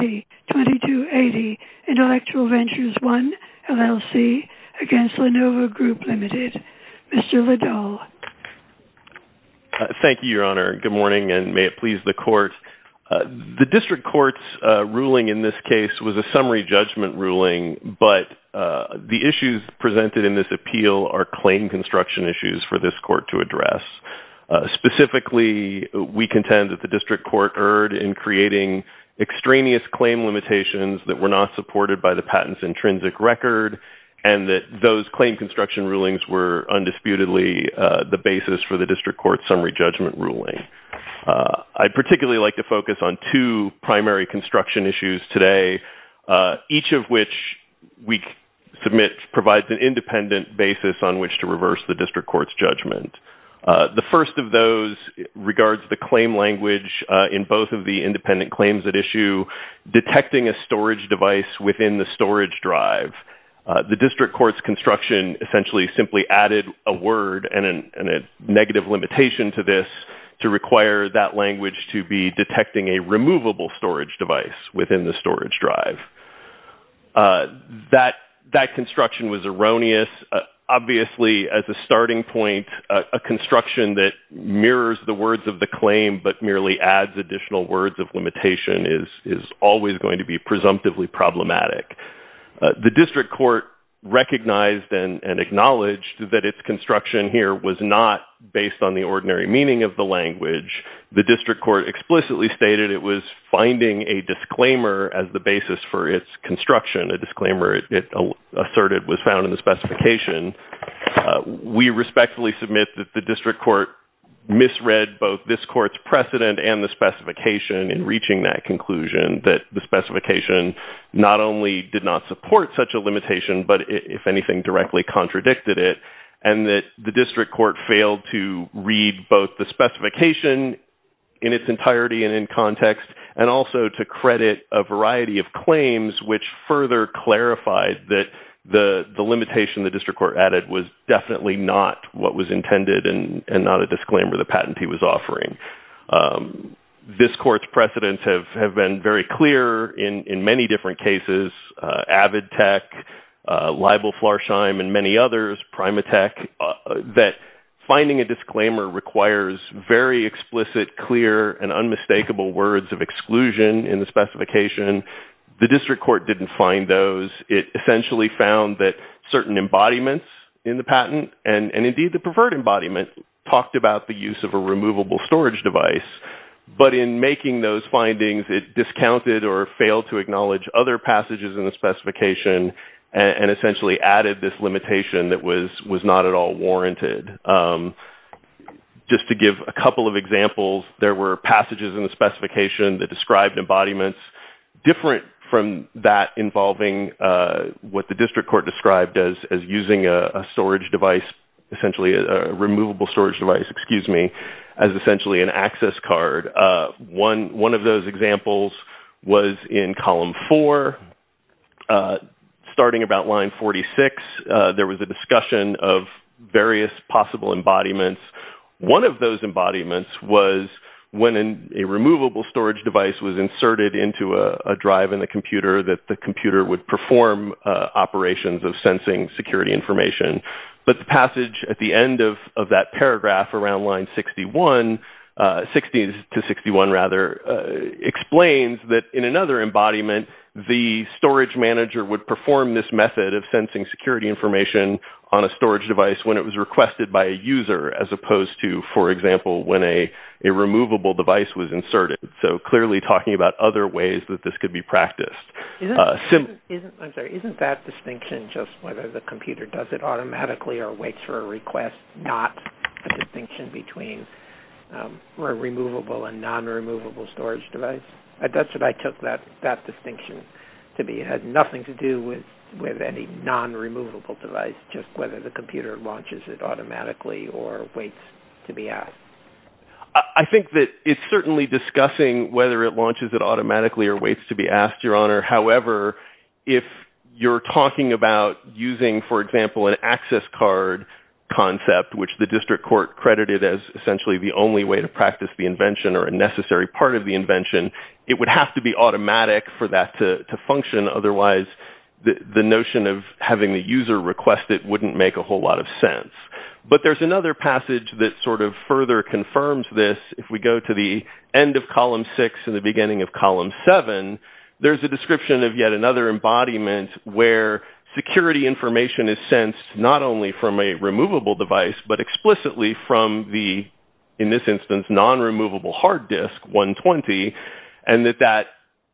2280 Intellectual Ventures I LLC against Lenovo Group Ltd. Mr. Liddell. Thank you, Your Honor. Good morning, and may it please the court. The district court's ruling in this case was a summary judgment ruling, but the issues presented in this appeal are claim construction issues for this court to address. Specifically, we contend that the district court erred in creating extraneous claim limitations that were not supported by the patent's intrinsic record, and that those claim construction rulings were undisputedly the basis for the district court's summary judgment ruling. I'd particularly like to focus on two primary construction issues today, each of which we submit provides an independent basis on which to reverse the district court's judgment. The first of those regards the claim language in both of the independent claims at issue, detecting a storage device within the storage drive. The district court's construction essentially simply added a word and a negative limitation to this to require that language to be detecting a removable storage device within the storage drive. That construction was erroneous. Obviously, as a starting point, a construction that mirrors the words of the claim but merely adds additional words of limitation is always going to be presumptively problematic. The district court recognized and acknowledged that its construction here was not based on the ordinary meaning of the language. The district court explicitly stated it was finding a disclaimer as the basis for its construction. A disclaimer, it asserted, was found in the specification. We respectfully submit that the district court misread both this court's precedent and the specification in reaching that conclusion that the specification not only did not support such a limitation but, if anything, directly contradicted it, and that the district court failed to read both the specification in its entirety and in context and also to credit a variety of claims which further clarified that the limitation the district court added was definitely not what was intended and not a disclaimer the patentee was offering. This court's precedents have been very clear in many different cases. Avid Tech, Libel, Flarsheim, and many others, Primatech, that finding a disclaimer requires very explicit, clear, and unmistakable words of exclusion in the specification. The district court didn't find those. It essentially found that certain embodiments in the patent, and indeed the preferred embodiment, talked about the use of a removable storage device, but in making those findings it discounted or failed to acknowledge other passages in the specification and essentially added this limitation that was not at all warranted. Just to give a couple of examples, there were passages in the specification that described embodiments different from that involving what the district court described as using a storage device, essentially a removable storage device, excuse me, as essentially an access card. One of those examples was in column four. Starting about line 46, there was a discussion of various possible embodiments. One of those embodiments was when a removable storage device was inserted into a drive in the computer that the computer would perform operations of sensing security information. But the passage at the end of that paragraph around line 61, 60 to 61 rather, explains that in another embodiment the storage manager would perform this method of sensing security information on a storage device when it was requested by a user as opposed to, for example, when a removable device was inserted. So clearly talking about other ways that this could be practiced. Isn't that distinction just whether the computer does it automatically or waits for a request, not the distinction between a removable and non-removable storage device? That's what I took that distinction to be. It had nothing to do with any non-removable device, just whether the computer launches it automatically or waits to be asked. I think that it's certainly discussing whether it launches it automatically or waits to be asked, Your Honor. However, if you're talking about using, for example, an access card concept, which the district court credited as essentially the only way to practice the invention or a necessary part of the invention, it would have to be automatic for that to function. Otherwise, the notion of having the user request it wouldn't make a whole lot of sense. But there's another passage that sort of further confirms this. If we go to the end of column six and the beginning of column seven, there's a description of yet another embodiment where security information is sensed not only from a removable device, but explicitly from the, in this instance, non-removable hard disk, 120, and that that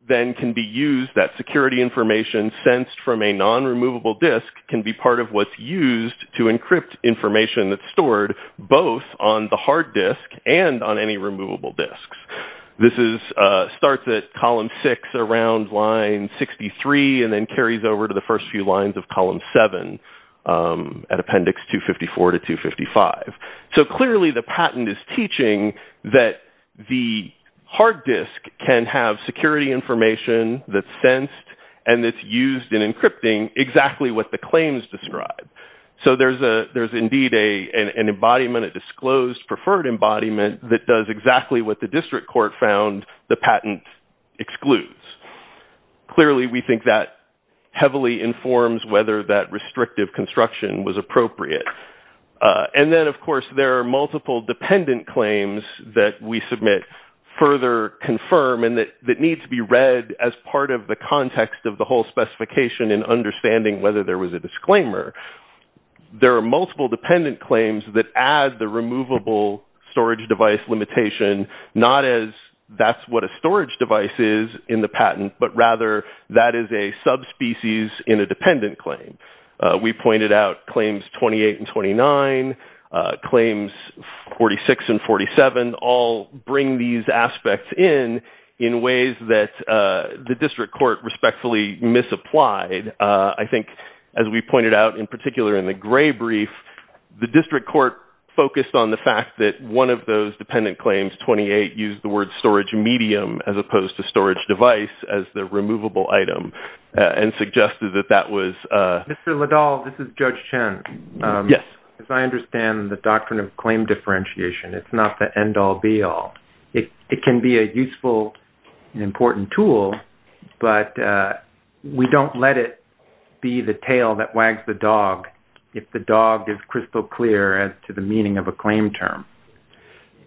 then can be used, that security information sensed from a non-removable disk can be part of what's used to encrypt information that's stored both on the hard disk and on any removable disks. This starts at column six around line 63 and then carries over to the first few lines of column seven at appendix 254 to 255. So clearly the patent is teaching that the hard disk can have security information that's sensed and that's used in encrypting exactly what the claims describe. So there's indeed an embodiment, a disclosed preferred embodiment, that does exactly what the district court found the patent excludes. Clearly we think that heavily informs whether that restrictive construction was appropriate. And then, of course, there are multiple dependent claims that we submit further confirm and that need to be read as part of the context of the whole specification and understanding whether there was a disclaimer. There are multiple dependent claims that add the removable storage device limitation, not as that's what a storage device is in the patent, but rather that is a subspecies in a dependent claim. We pointed out claims 28 and 29, claims 46 and 47, all bring these aspects in in ways that the district court respectfully misapplied. I think, as we pointed out in particular in the gray brief, the district court focused on the fact that one of those dependent claims, 28, used the word storage medium as opposed to storage device as the removable item and suggested that that was... Mr. Liddell, this is Judge Chen. Yes. As I understand the doctrine of claim differentiation, it's not the end-all, be-all. It can be a useful and important tool, but we don't let it be the tail that wags the dog if the dog is crystal clear as to the meaning of a claim term,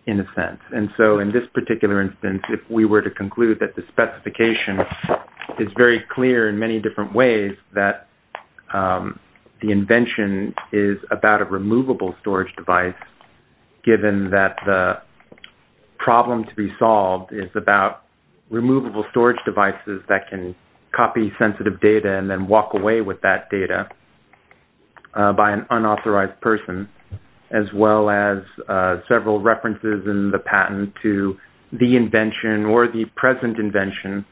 in a sense. And so in this particular instance, if we were to conclude that the specification is very clear in many different ways that the invention is about a removable storage device, given that the problem to be solved is about removable storage devices that can copy sensitive data and then walk away with that data by an unauthorized person, as well as several references in the patent to the invention or the present invention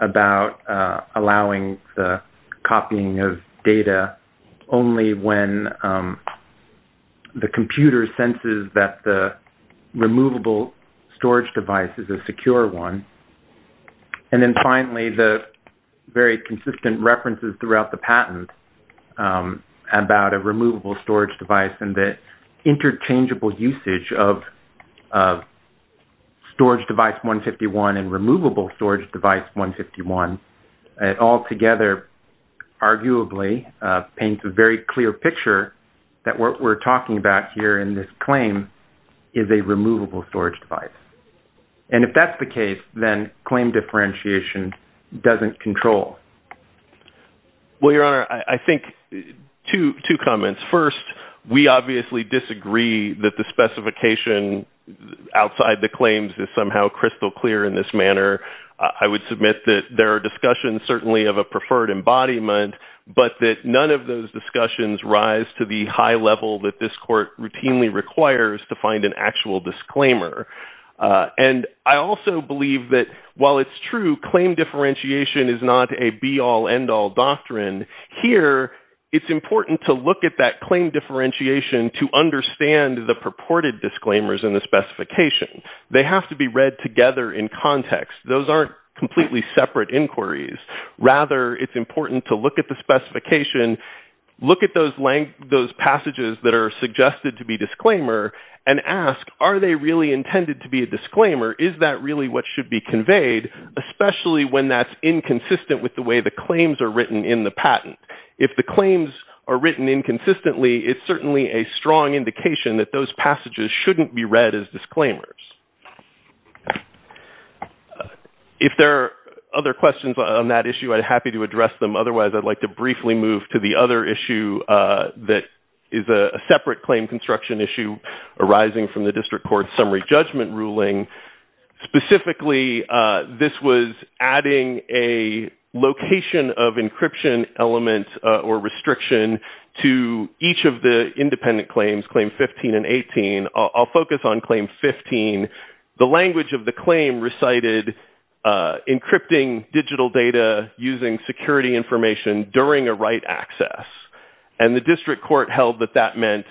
about allowing the copying of data only when the computer senses that the removable storage device is a secure one, and then finally the very consistent references throughout the patent about a removable storage device and the interchangeable usage of storage device 151 and removable storage device 151, it altogether arguably paints a very clear picture that what we're talking about here in this claim is a removable storage device. And if that's the case, then claim differentiation doesn't control. Well, Your Honor, I think two comments. First, we obviously disagree that the specification outside the claims is somehow crystal clear in this manner. I would submit that there are discussions certainly of a preferred embodiment, but that none of those discussions rise to the high level that this court routinely requires to find an actual disclaimer. And I also believe that while it's true, claim differentiation is not a be-all, end-all doctrine, here it's important to look at that claim differentiation to understand the purported disclaimers in the specification. They have to be read together in context. Those aren't completely separate inquiries. Rather, it's important to look at the specification, look at those passages that are suggested to be disclaimer, and ask, are they really intended to be a disclaimer? Is that really what should be conveyed? Especially when that's inconsistent with the way the claims are written in the patent. If the claims are written inconsistently, it's certainly a strong indication that those passages shouldn't be read as disclaimers. If there are other questions on that issue, I'd be happy to address them. Otherwise, I'd like to briefly move to the other issue that is a separate claim construction issue arising from the District Court's summary judgment ruling. Specifically, this was adding a location of encryption element or restriction to each of the independent claims, Claim 15 and 18. I'll focus on Claim 15. The language of the claim recited, encrypting digital data using security information during a right access, and the District Court held that that meant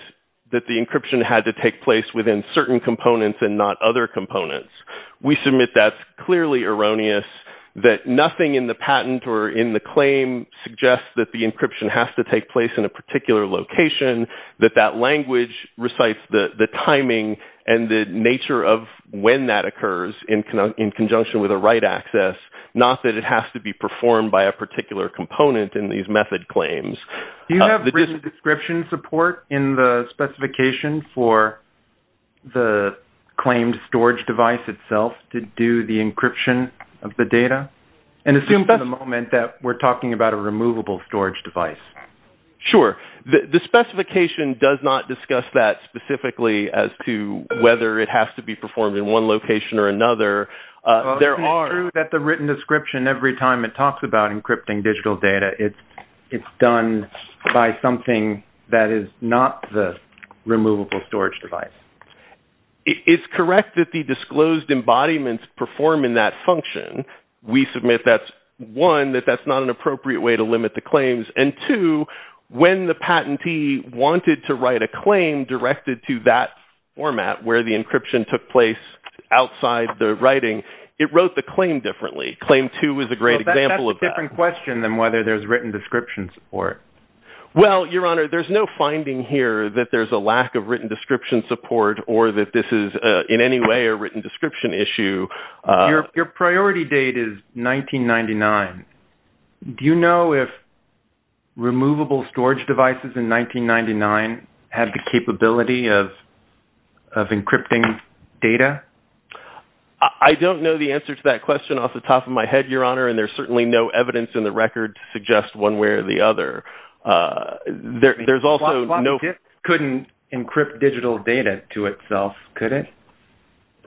that the encryption had to take place within certain components and not other components. We submit that's clearly erroneous, that nothing in the patent or in the claim suggests that the encryption has to take place in a particular location, that that language recites the timing and the nature of when that occurs in conjunction with a right access, not that it has to be performed by a particular component in these method claims. Do you have written description support in the specification for the claimed storage device itself to do the encryption of the data? And assume for the moment that we're talking about a removable storage device. Sure. The specification does not discuss that specifically as to whether it has to be performed in one location or another. It's true that the written description, every time it talks about encrypting digital data, it's done by something that is not the removable storage device. It's correct that the disclosed embodiments perform in that function. We submit that, one, that that's not an appropriate way to limit the claims, and two, when the patentee wanted to write a claim directed to that format where the encryption took place outside the writing, it wrote the claim differently. Claim 2 is a great example of that. It's a different question than whether there's written description support. Well, Your Honor, there's no finding here that there's a lack of written description support or that this is in any way a written description issue. Your priority date is 1999. Do you know if removable storage devices in 1999 had the capability of encrypting data? I don't know the answer to that question off the top of my head, Your Honor, and there's certainly no evidence in the record to suggest one way or the other. There's also no... A floppy disk couldn't encrypt digital data to itself, could it?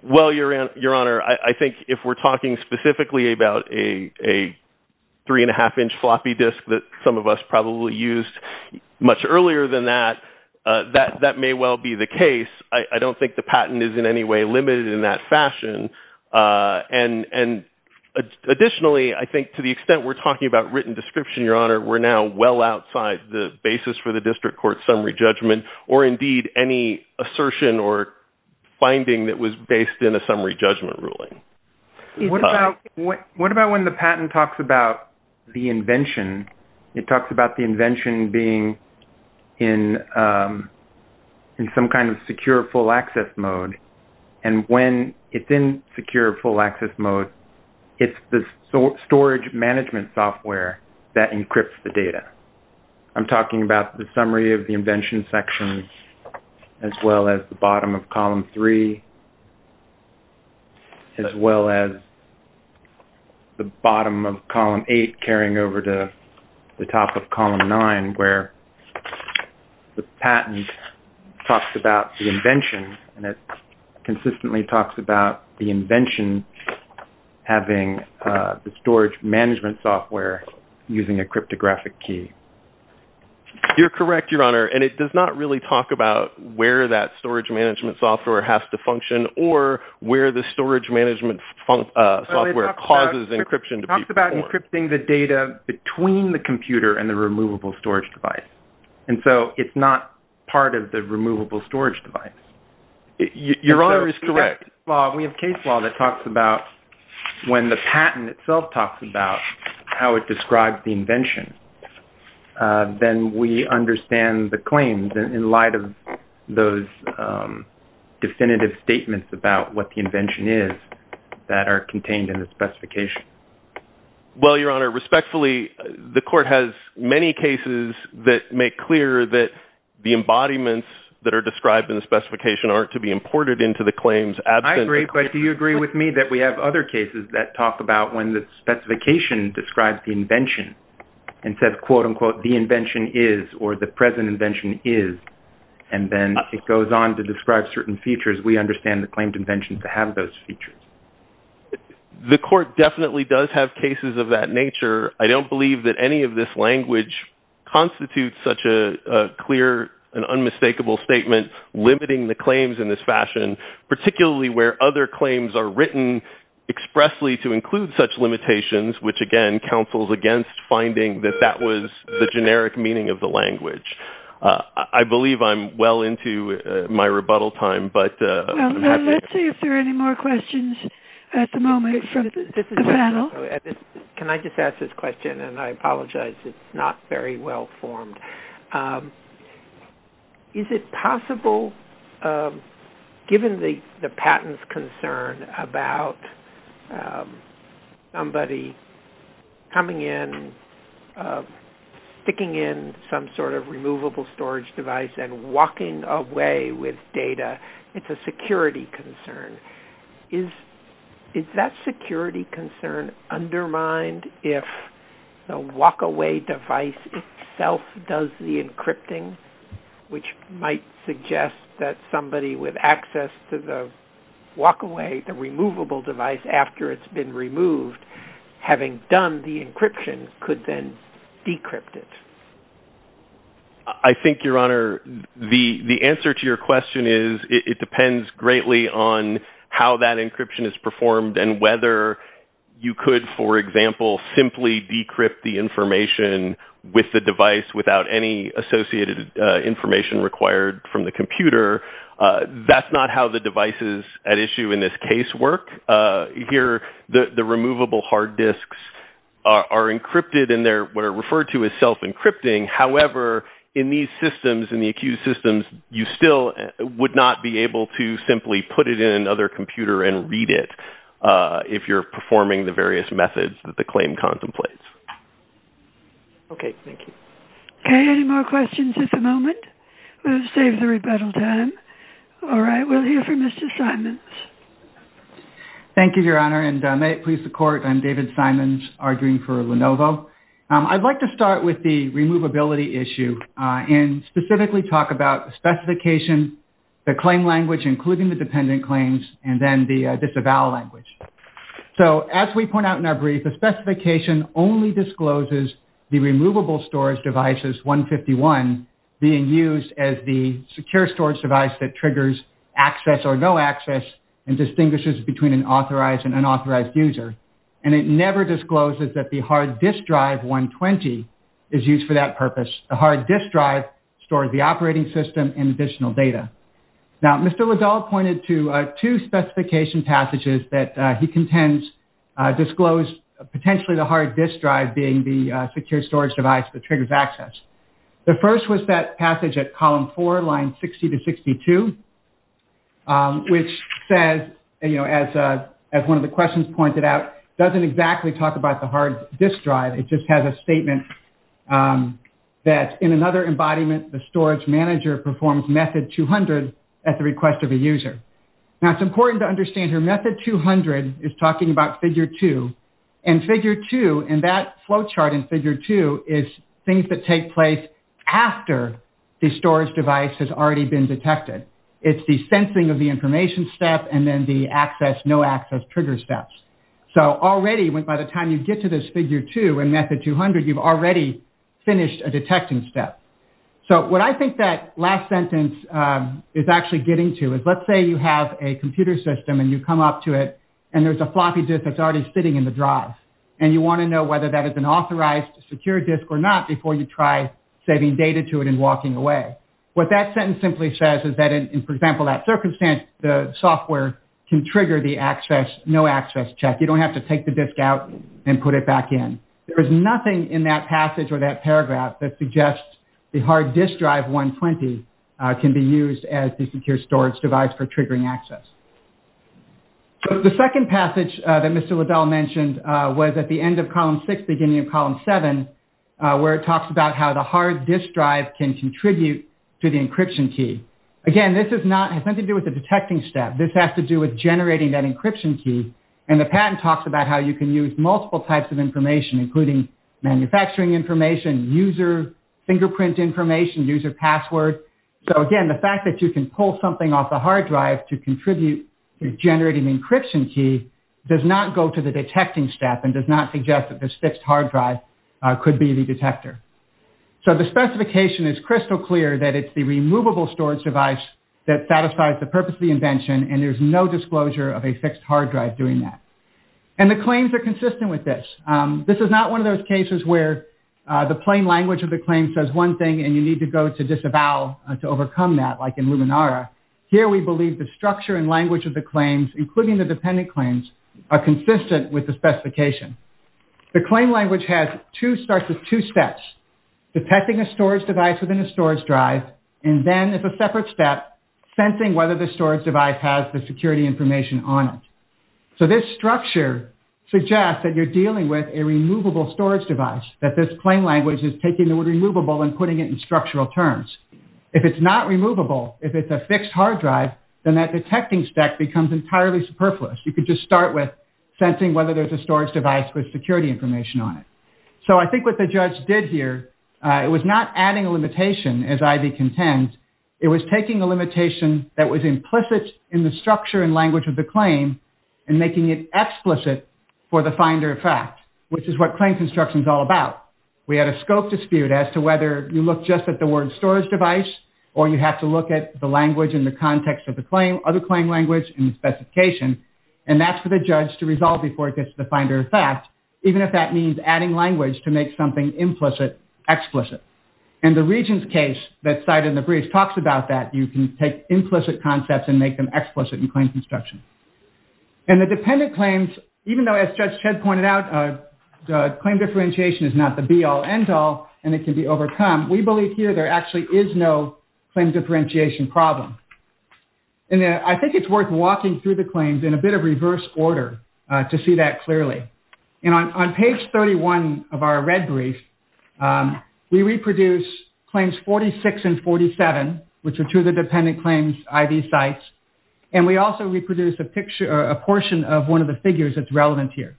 Well, Your Honor, I think if we're talking specifically about a 3-1⁄2-inch floppy disk that some of us probably used much earlier than that, that may well be the case. I don't think the patent is in any way limited in that fashion. And additionally, I think to the extent we're talking about written description, Your Honor, we're now well outside the basis for the district court's summary judgment or indeed any assertion or finding that was based in a summary judgment ruling. What about when the patent talks about the invention? It talks about the invention being in some kind of secure full-access mode, and when it's in secure full-access mode, it's the storage management software that encrypts the data. I'm talking about the summary of the invention section as well as the bottom of column 3 as well as the bottom of column 8 carrying over to the top of column 9 where the patent talks about the invention and it consistently talks about the invention having the storage management software using a cryptographic key. You're correct, Your Honor, and it does not really talk about where that storage management software has to function or where the storage management software causes encryption to be performed. It talks about encrypting the data between the computer and the removable storage device, and so it's not part of the removable storage device. Your Honor is correct. We have case law that talks about when the patent itself talks about how it describes the invention, then we understand the claims in light of those definitive statements about what the invention is that are contained in the specification. Well, Your Honor, respectfully, the Court has many cases that make clear that the embodiments that are described in the specification aren't to be imported into the claims. I agree, but do you agree with me that we have other cases that talk about when the specification describes the invention and says, quote-unquote, the invention is or the present invention is, and then it goes on to describe certain features. We understand the claimed invention to have those features. The Court definitely does have cases of that nature. I don't believe that any of this language constitutes such a clear and unmistakable statement limiting the claims in this fashion, particularly where other claims are written expressly to include such limitations, which again counsels against finding that that was the generic meaning of the language. I believe I'm well into my rebuttal time, but... at the moment from the panel. Can I just ask this question, and I apologize. It's not very well formed. Is it possible, given the patent's concern about somebody coming in, sticking in some sort of removable storage device and walking away with data, it's a security concern. Is that security concern undermined if the walk-away device itself does the encrypting, which might suggest that somebody with access to the walk-away, the removable device after it's been removed, having done the encryption, could then decrypt it? I think, Your Honor, the answer to your question is it depends greatly on how that encryption is performed and whether you could, for example, simply decrypt the information with the device without any associated information required from the computer. That's not how the devices at issue in this case work. Here, the removable hard disks are encrypted, and they're referred to as self-encrypting. However, in these systems, in the accused systems, you still would not be able to simply put it in another computer and read it if you're performing the various methods that the claim contemplates. Okay, thank you. Okay, any more questions at the moment? We'll save the rebuttal time. All right, we'll hear from Mr. Simons. Thank you, Your Honor, and may it please the Court, I'm David Simons, arguing for Lenovo. I'd like to start with the removability issue and specifically talk about the specification, the claim language, including the dependent claims, and then the disavowal language. So as we point out in our brief, the specification only discloses the removable storage devices 151 being used as the secure storage device that triggers access or no access and distinguishes between an authorized and unauthorized user. And it never discloses that the hard disk drive 120 is used for that purpose. The hard disk drive stores the operating system and additional data. Now, Mr. Liddell pointed to two specification passages that he contends disclose potentially the hard disk drive being the secure storage device that triggers access. The first was that passage at column four, line 60 to 62, which says, as one of the questions pointed out, doesn't exactly talk about the hard disk drive. It just has a statement that in another embodiment, the storage manager performs method 200 at the request of a user. Now, it's important to understand here method 200 is talking about figure two. And figure two, and that flowchart in figure two is things that take place after the storage device has already been detected. It's the sensing of the information step and then the access, no access trigger steps. So already by the time you get to this figure two, in method 200, you've already finished a detecting step. So what I think that last sentence is actually getting to is let's say you have a computer system and you come up to it and there's a floppy disk that's already sitting in the drive. And you want to know whether that is an authorized secure disk or not before you try saving data to it and walking away. What that sentence simply says is that in, for example, that circumstance, the software can trigger the access, no access check. You don't have to take the disk out and put it back in. There is nothing in that passage or that paragraph that suggests the hard disk drive 120 can be used as the secure storage device for triggering access. So the second passage that Mr. Liddell mentioned was at the end of column six, beginning of column seven, where it talks about how the hard disk drive can contribute to the encryption key. Again, this has nothing to do with the detecting step. This has to do with generating that encryption key. And the patent talks about how you can use multiple types of information, including manufacturing information, user fingerprint information, user password. So again, the fact that you can pull something off the hard drive to contribute, to generate an encryption key, does not go to the detecting step and does not suggest that this fixed hard drive could be the detector. So the specification is crystal clear that it's the removable storage device that satisfies the purpose of the invention. And there's no disclosure of a fixed hard drive doing that. And the claims are consistent with this. This is not one of those cases where the plain language of the claim says one thing and you need to go to disavow to overcome that, like in Luminara. Here we believe the structure and language of the claims, including the dependent claims, are consistent with the specification. The claim language starts with two steps, detecting a storage device within a storage drive. And then it's a separate step, sensing whether the storage device has the security information on it. So this structure suggests that you're dealing with a removable storage device, that this claim language is taking the word removable and putting it in structural terms. If it's not removable, if it's a fixed hard drive, then that detecting step becomes entirely superfluous. You could just start with sensing whether there's a storage device with security information on it. So I think what the judge did here, it was not adding a limitation, as Ivy contends. It was taking a limitation that was implicit in the structure and language of the claim and making it explicit for the finder of fact, which is what claim construction is all about. We had a scope dispute as to whether you look just at the word storage device or you have to look at the language in the context of the claim, other claim language, and the specification. And that's for the judge to resolve before it gets to the finder of fact, even if that means adding language to make something implicit explicit. And the regent's case that's cited in the brief talks about that. You can take implicit concepts and make them explicit in claim construction. And the dependent claims, even though, as Judge Chedd pointed out, claim differentiation is not the be-all, end-all, and it can be overcome, we believe here there actually is no claim differentiation problem. And I think it's worth walking through the claims in a bit of reverse order to see that clearly. And on page 31 of our red brief, we reproduce claims 46 and 47, which are two of the dependent claims ID sites. And we also reproduce a portion of one of the figures that's relevant here.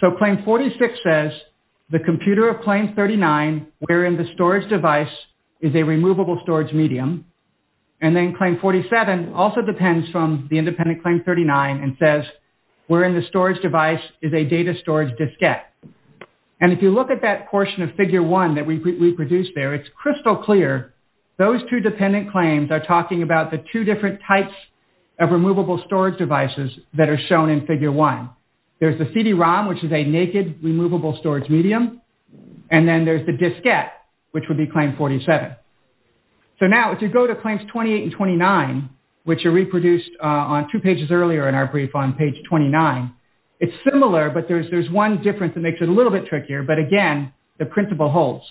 So claim 46 says, the computer of claim 39, wherein the storage device is a removable storage medium. And then claim 47 also depends from the independent claim 39 and says, wherein the storage device is a data storage diskette. And if you look at that portion of figure one that we reproduced there, it's crystal clear those two dependent claims are talking about the two different types of removable storage devices that are shown in figure one. There's the CD-ROM, which is a naked removable storage medium. And then there's the diskette, which would be claim 47. So now, if you go to claims 28 and 29, which are reproduced on two pages earlier in our brief on page 29, it's similar. But there's one difference that makes it a little bit trickier. But again, the principle holds.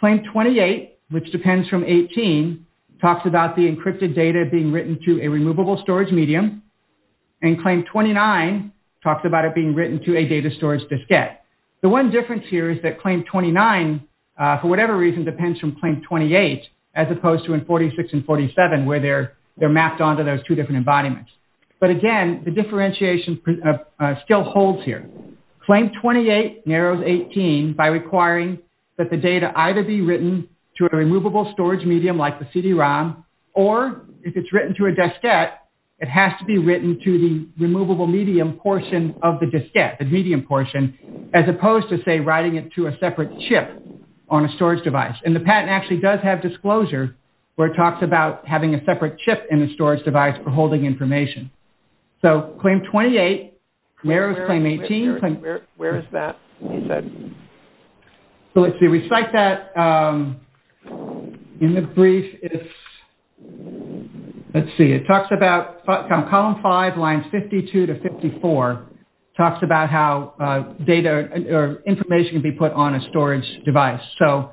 Claim 28, which depends from 18, talks about the encrypted data being written to a removable storage medium. And claim 29 talks about it being written to a data storage diskette. The one difference here is that claim 29, for whatever reason, depends from claim 28, as opposed to in 46 and 47, where they're mapped onto those two different embodiments. But again, the differentiation still holds here. Claim 28 narrows 18 by requiring that the data either be written to a removable storage medium, like the CD-ROM, or if it's written to a diskette, it has to be written to the removable medium portion of the diskette, the medium portion, as opposed to, say, writing it to a separate chip on a storage device. And the patent actually does have disclosure where it talks about having a separate chip in the storage device for holding information. So claim 28 narrows claim 18. Where is that, you said? So let's see. We cite that in the brief. Let's see. It talks about column 5, lines 52 to 54, talks about how data or information can be put on a storage device. So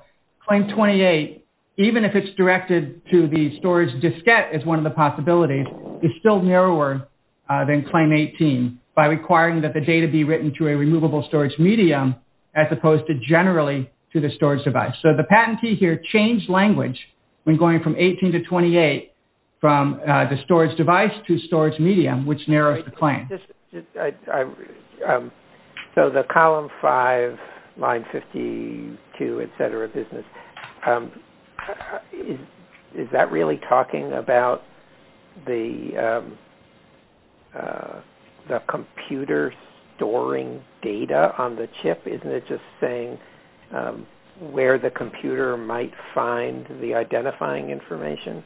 claim 28, even if it's directed to the storage diskette as one of the possibilities, is still narrower than claim 18 by requiring that the data be written to a removable storage medium, as opposed to generally to the storage device. So the patentee here changed language when going from 18 to 28 from the storage device to storage medium, which narrows the claim. So the column 5, line 52, et cetera business, is that really talking about the computer storing data on the chip? Isn't it just saying where the computer might find the identifying information?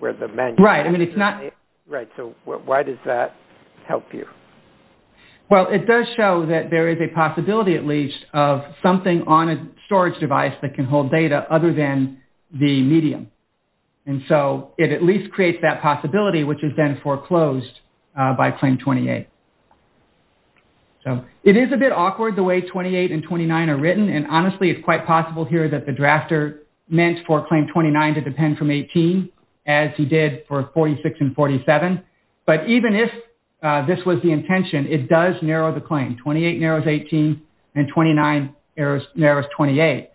Right. I mean, it's not. Right. So why does that help you? Well, it does show that there is a possibility, at least, of something on a storage device that can hold data other than the medium. And so it at least creates that possibility, which is then foreclosed by claim 28. So it is a bit awkward the way 28 and 29 are written. And honestly, it's quite possible here that the drafter meant for claim 29 to depend from 18, as he did for 46 and 47. But even if this was the intention, it does narrow the claim. 28 narrows 18, and 29 narrows 28.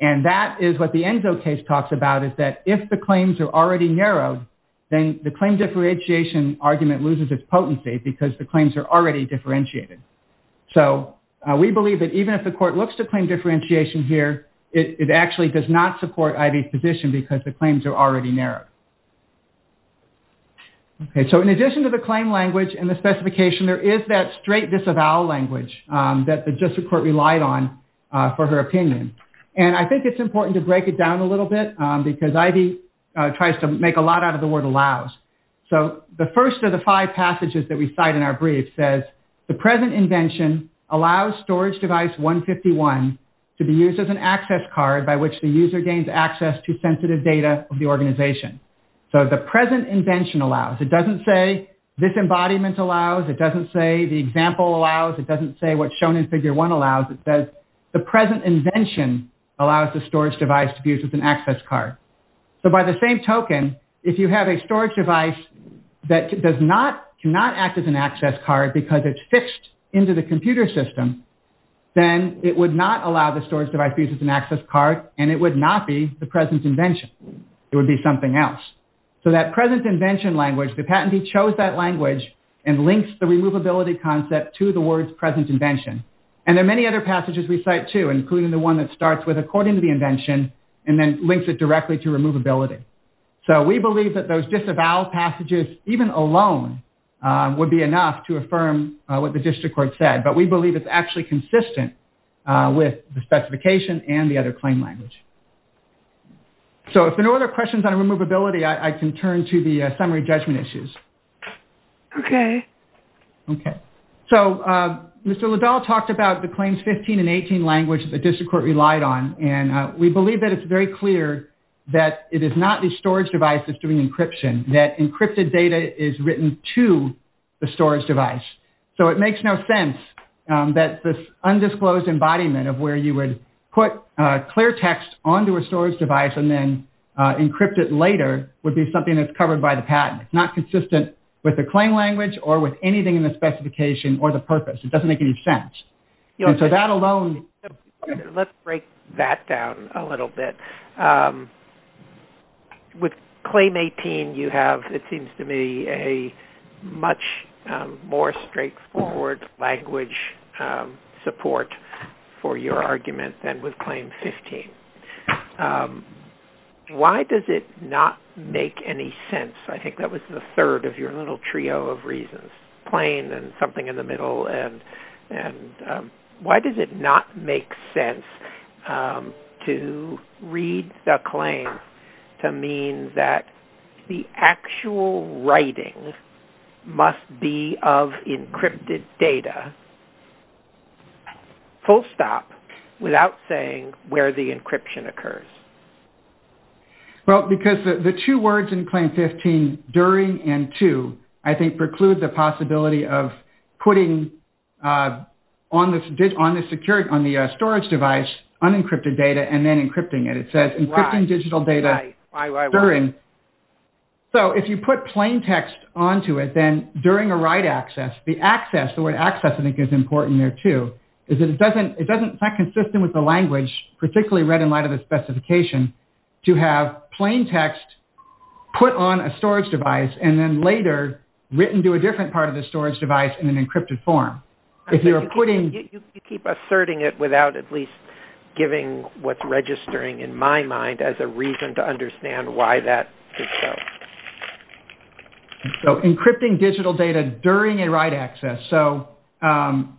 And that is what the Enzo case talks about, is that if the claims are already narrowed, then the claim differentiation argument loses its potency because the claims are already differentiated. So we believe that even if the court looks to claim differentiation here, it actually does not support Ivy's position because the claims are already narrowed. OK, so in addition to the claim language and the specification, there is that straight disavowal language that the district court relied on for her opinion. And I think it's important to break it down a little bit because Ivy tries to make a lot out of the word allows. So the first of the five passages that we cite in our brief says, the present invention allows storage device 151 to be used as an access card by which the user gains access to sensitive data of the organization. So the present invention allows. It doesn't say this embodiment allows. It doesn't say the example allows. It doesn't say what's shown in figure one allows. It says the present invention allows the storage device to be used as an access card. So by the same token, if you have a storage device that cannot act as an access card because it's fixed into the computer system, then it would not allow the storage device to be used as an access card. And it would not be the present invention. It would be something else. So that present invention language, the patentee chose that language and links the removability concept to the words present invention. And there are many other passages we cite too, including the one that starts with according to the invention and then links it directly to removability. So we believe that those disavowal passages, even alone, would be enough to affirm what the district court said. But we believe it's actually consistent with the specification and the other claim language. So if there are no other questions on removability, I can turn to the summary judgment issues. OK. OK. So Mr. Liddell talked about the claims 15 and 18 language that the district court relied on. And we believe that it's very clear that it is not the storage device that's doing encryption, that encrypted data is written to the storage device. So it makes no sense that this undisclosed embodiment of where you would put clear text onto a storage device and then encrypt it later would be something that's covered by the patent. It's not consistent with the claim language or with anything in the specification or the purpose. It doesn't make any sense. And so that alone. Let's break that down a little bit. With claim 18, you have, it seems to me, a much more straightforward language support for your argument than with claim 15. Why does it not make any sense? I think that was the third of your little trio of reasons. Plain and something in the middle. To mean that the actual writing must be of encrypted data. Full stop without saying where the encryption occurs. Well, because the two words in claim 15, during and to, I think preclude the possibility of putting on the storage device unencrypted data and then encrypting it. It says encrypting digital data during. So if you put plain text onto it, then during a write access, the access, the word access I think is important there too. It's not consistent with the language, particularly read in light of the specification, to have plain text put on a storage device and then later written to a different part of the storage device in an encrypted form. You keep asserting it without at least giving what's registering in my mind as a reason to understand why that did so. So encrypting digital data during a write access. So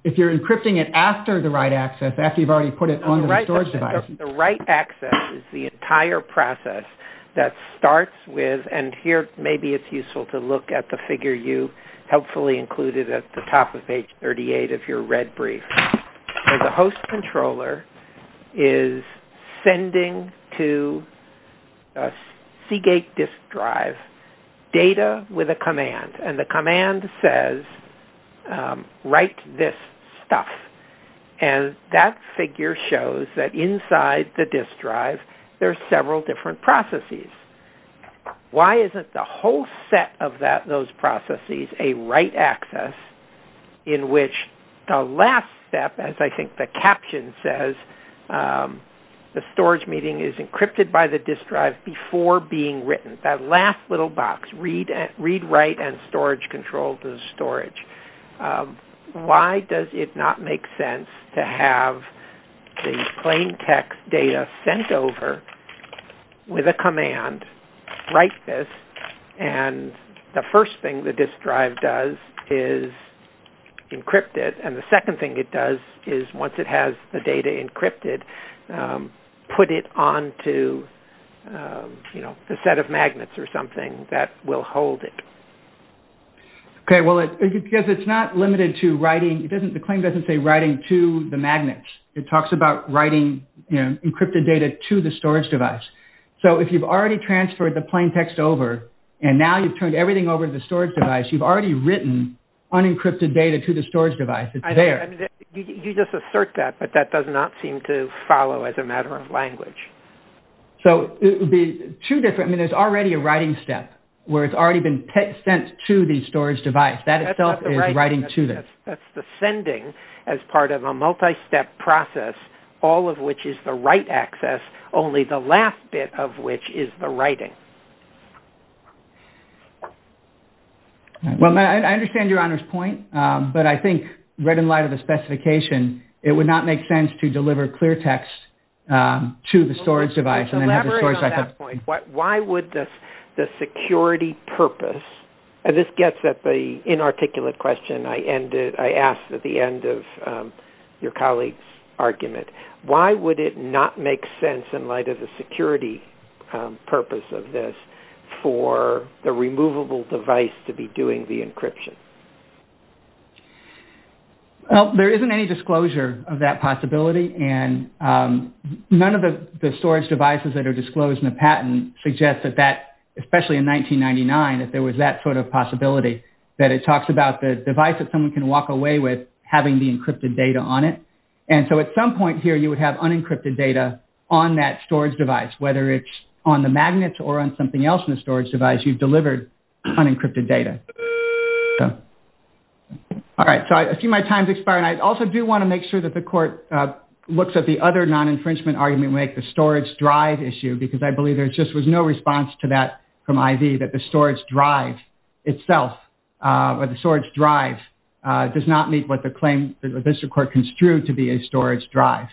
if you're encrypting it after the write access, after you've already put it on the storage device. The write access is the entire process that starts with, and here maybe it's useful to look at the figure you helpfully included at the top of page 38 of your red brief. The host controller is sending to a Seagate disk drive data with a command. And the command says, write this stuff. And that figure shows that inside the disk drive there's several different processes. Why isn't the whole set of those processes a write access in which the last step, as I think the caption says, the storage meeting is encrypted by the disk drive before being written. That last little box, read, write, and storage control to the storage. Why does it not make sense to have the plain text data sent over with a command, write this, and the first thing the disk drive does is encrypt it. And the second thing it does is, once it has the data encrypted, put it onto a set of magnets or something that will hold it. Okay, well, because it's not limited to writing, the claim doesn't say writing to the magnets. It talks about writing encrypted data to the storage device. So if you've already transferred the plain text over and now you've turned everything over to the storage device, you've already written unencrypted data to the storage device. It's there. You just assert that, but that does not seem to follow as a matter of language. So it would be two different, I mean, there's already a writing step where it's already been sent to the storage device. That itself is writing to this. That's the sending as part of a multi-step process, all of which is the write access, only the last bit of which is the writing. Well, Matt, I understand Your Honor's point, but I think right in light of the specification, it would not make sense to deliver clear text to the storage device and then have the storage device. Let's elaborate on that point. Why would the security purpose, and this gets at the inarticulate question I asked at the end of your colleague's argument, why would it not make sense in light of the security purpose of this for the removable device to be doing the encryption? Well, there isn't any disclosure of that possibility, and none of the storage devices that are disclosed in the patent suggest that that, especially in 1999, if there was that sort of possibility, that it talks about the device that someone can walk away with having the encrypted data on it. And so at some point here, you would have unencrypted data on that storage device, whether it's on the magnets or on something else in the storage device, you've delivered unencrypted data. All right, so I see my time's expiring. I also do want to make sure that the court looks at the other non-infringement argument and make the storage drive issue, because I believe there just was no response to that from IV, that the storage drive itself, or the storage drive, does not meet what the claim that the district court construed to be a storage drive,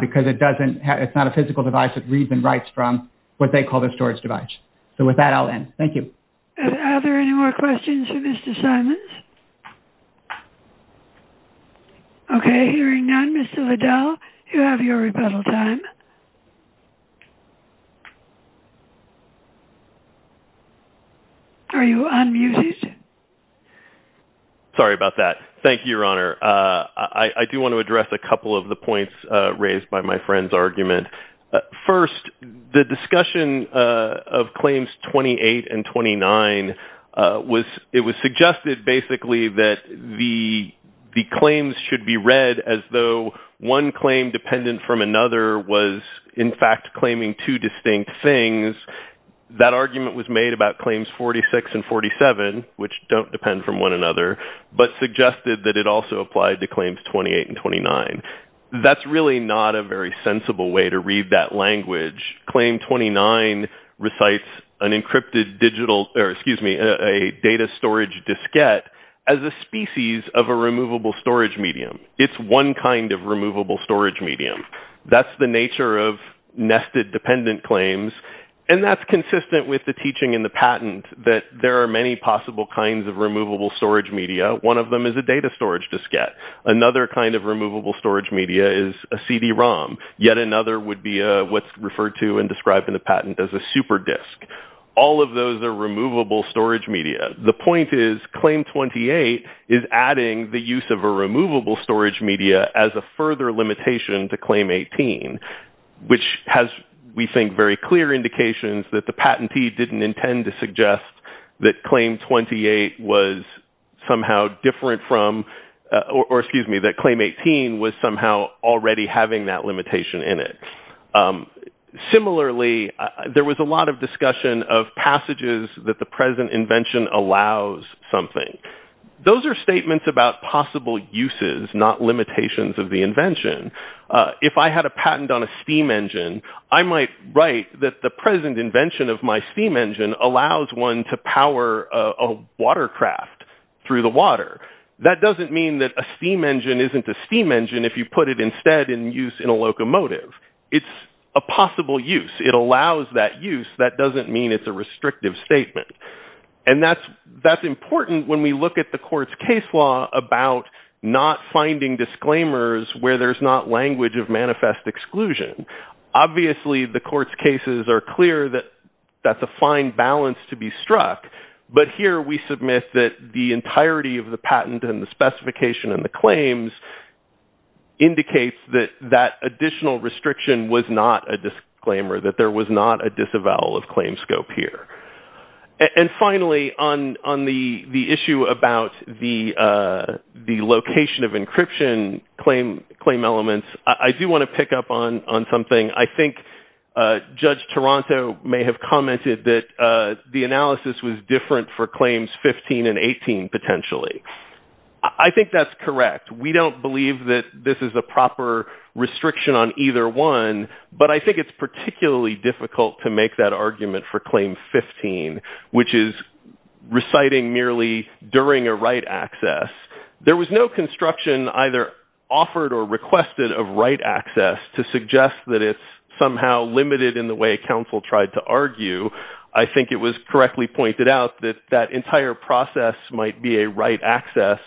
because it's not a physical device that reads and writes from what they call the storage device. So with that, I'll end. Thank you. Are there any more questions for Mr. Simons? Okay, hearing none, Mr. Liddell, you have your rebuttal time. Are you unmuted? Sorry about that. Thank you, Your Honor. I do want to address a couple of the points raised by my friend's argument. First, the discussion of claims 28 and 29, it was suggested basically that the claims should be read as though one claim dependent from another was in fact claiming two distinct things. That argument was made about claims 46 and 47, which don't depend from one another, but suggested that it also applied to claims 28 and 29. That's really not a very sensible way to read that language. Claim 29 recites an encrypted digital, or excuse me, a data storage diskette as a species of a removable storage medium. It's one kind of removable storage medium. That's the nature of nested dependent claims, and that's consistent with the teaching in the patent that there are many possible kinds of removable storage media. One of them is a data storage diskette. Another kind of removable storage media is a CD-ROM. Yet another would be what's referred to and described in the patent as a super disk. All of those are removable storage media. The point is claim 28 is adding the use of a removable storage media as a further limitation to claim 18, which has, we think, very clear indications that the patentee didn't intend to suggest that claim 28 was somehow different from... Or, excuse me, that claim 18 was somehow already having that limitation in it. Similarly, there was a lot of discussion of passages that the present invention allows something. Those are statements about possible uses, not limitations of the invention. If I had a patent on a steam engine, I might write that the present invention of my steam engine allows one to power a watercraft through the water. That doesn't mean that a steam engine isn't a steam engine if you put it instead in use in a locomotive. It's a possible use. It allows that use. That doesn't mean it's a restrictive statement. That's important when we look at the court's case law about not finding disclaimers where there's not language of manifest exclusion. Obviously, the court's cases are clear that that's a fine balance to be struck, but here we submit that the entirety of the patent and the specification and the claims indicates that that additional restriction was not a disclaimer, that there was not a disavowal of claim scope here. And finally, on the issue about the location of encryption claim elements, I do want to pick up on something. I think Judge Toronto may have commented that the analysis was different for claims 15 and 18, potentially. I think that's correct. We don't believe that this is a proper restriction on either one, but I think it's particularly difficult to make that argument for claim 15, which is reciting merely during a right access. There was no construction either offered or requested of right access to suggest that it's somehow limited in the way counsel tried to argue. I think it was correctly pointed out that that entire process might be a right access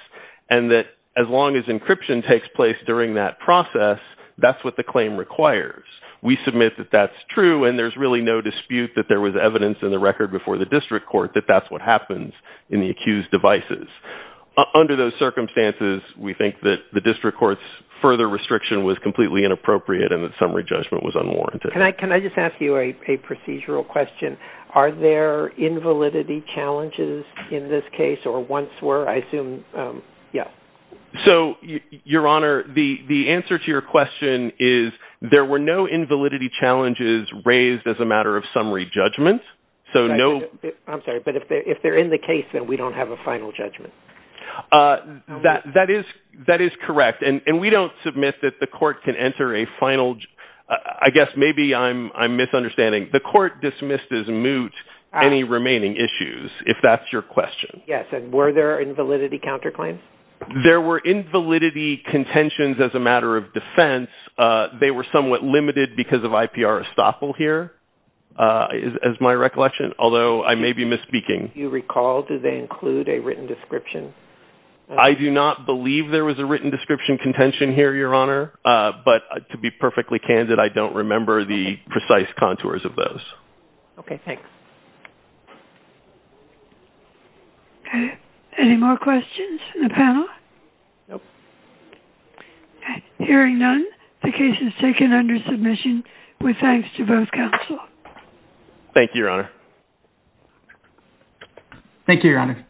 and that as long as encryption takes place during that process, that's what the claim requires. We submit that that's true and there's really no dispute that there was evidence in the record before the district court that that's what happens in the accused devices. Under those circumstances, we think that the district court's further restriction was completely inappropriate and that summary judgment was unwarranted. Can I just ask you a procedural question? Are there invalidity challenges in this case or once were? Your Honor, the answer to your question is there were no invalidity challenges raised as a matter of summary judgment. I'm sorry, but if they're in the case, then we don't have a final judgment. That is correct. We don't submit that the court can enter a final... I guess maybe I'm misunderstanding. The court dismissed as moot any remaining issues, if that's your question. Yes, and were there invalidity counterclaims? There were invalidity contentions as a matter of defense. They were somewhat limited because of IPR estoppel here, is my recollection, although I may be misspeaking. If you recall, did they include a written description? I do not believe there was a written description contention here, Your Honor, but to be perfectly candid, I don't remember the precise contours of those. Okay, thanks. Any more questions from the panel? Nope. Hearing none, the case is taken under submission with thanks to both counsel. Thank you, Your Honor. Thank you, Your Honor.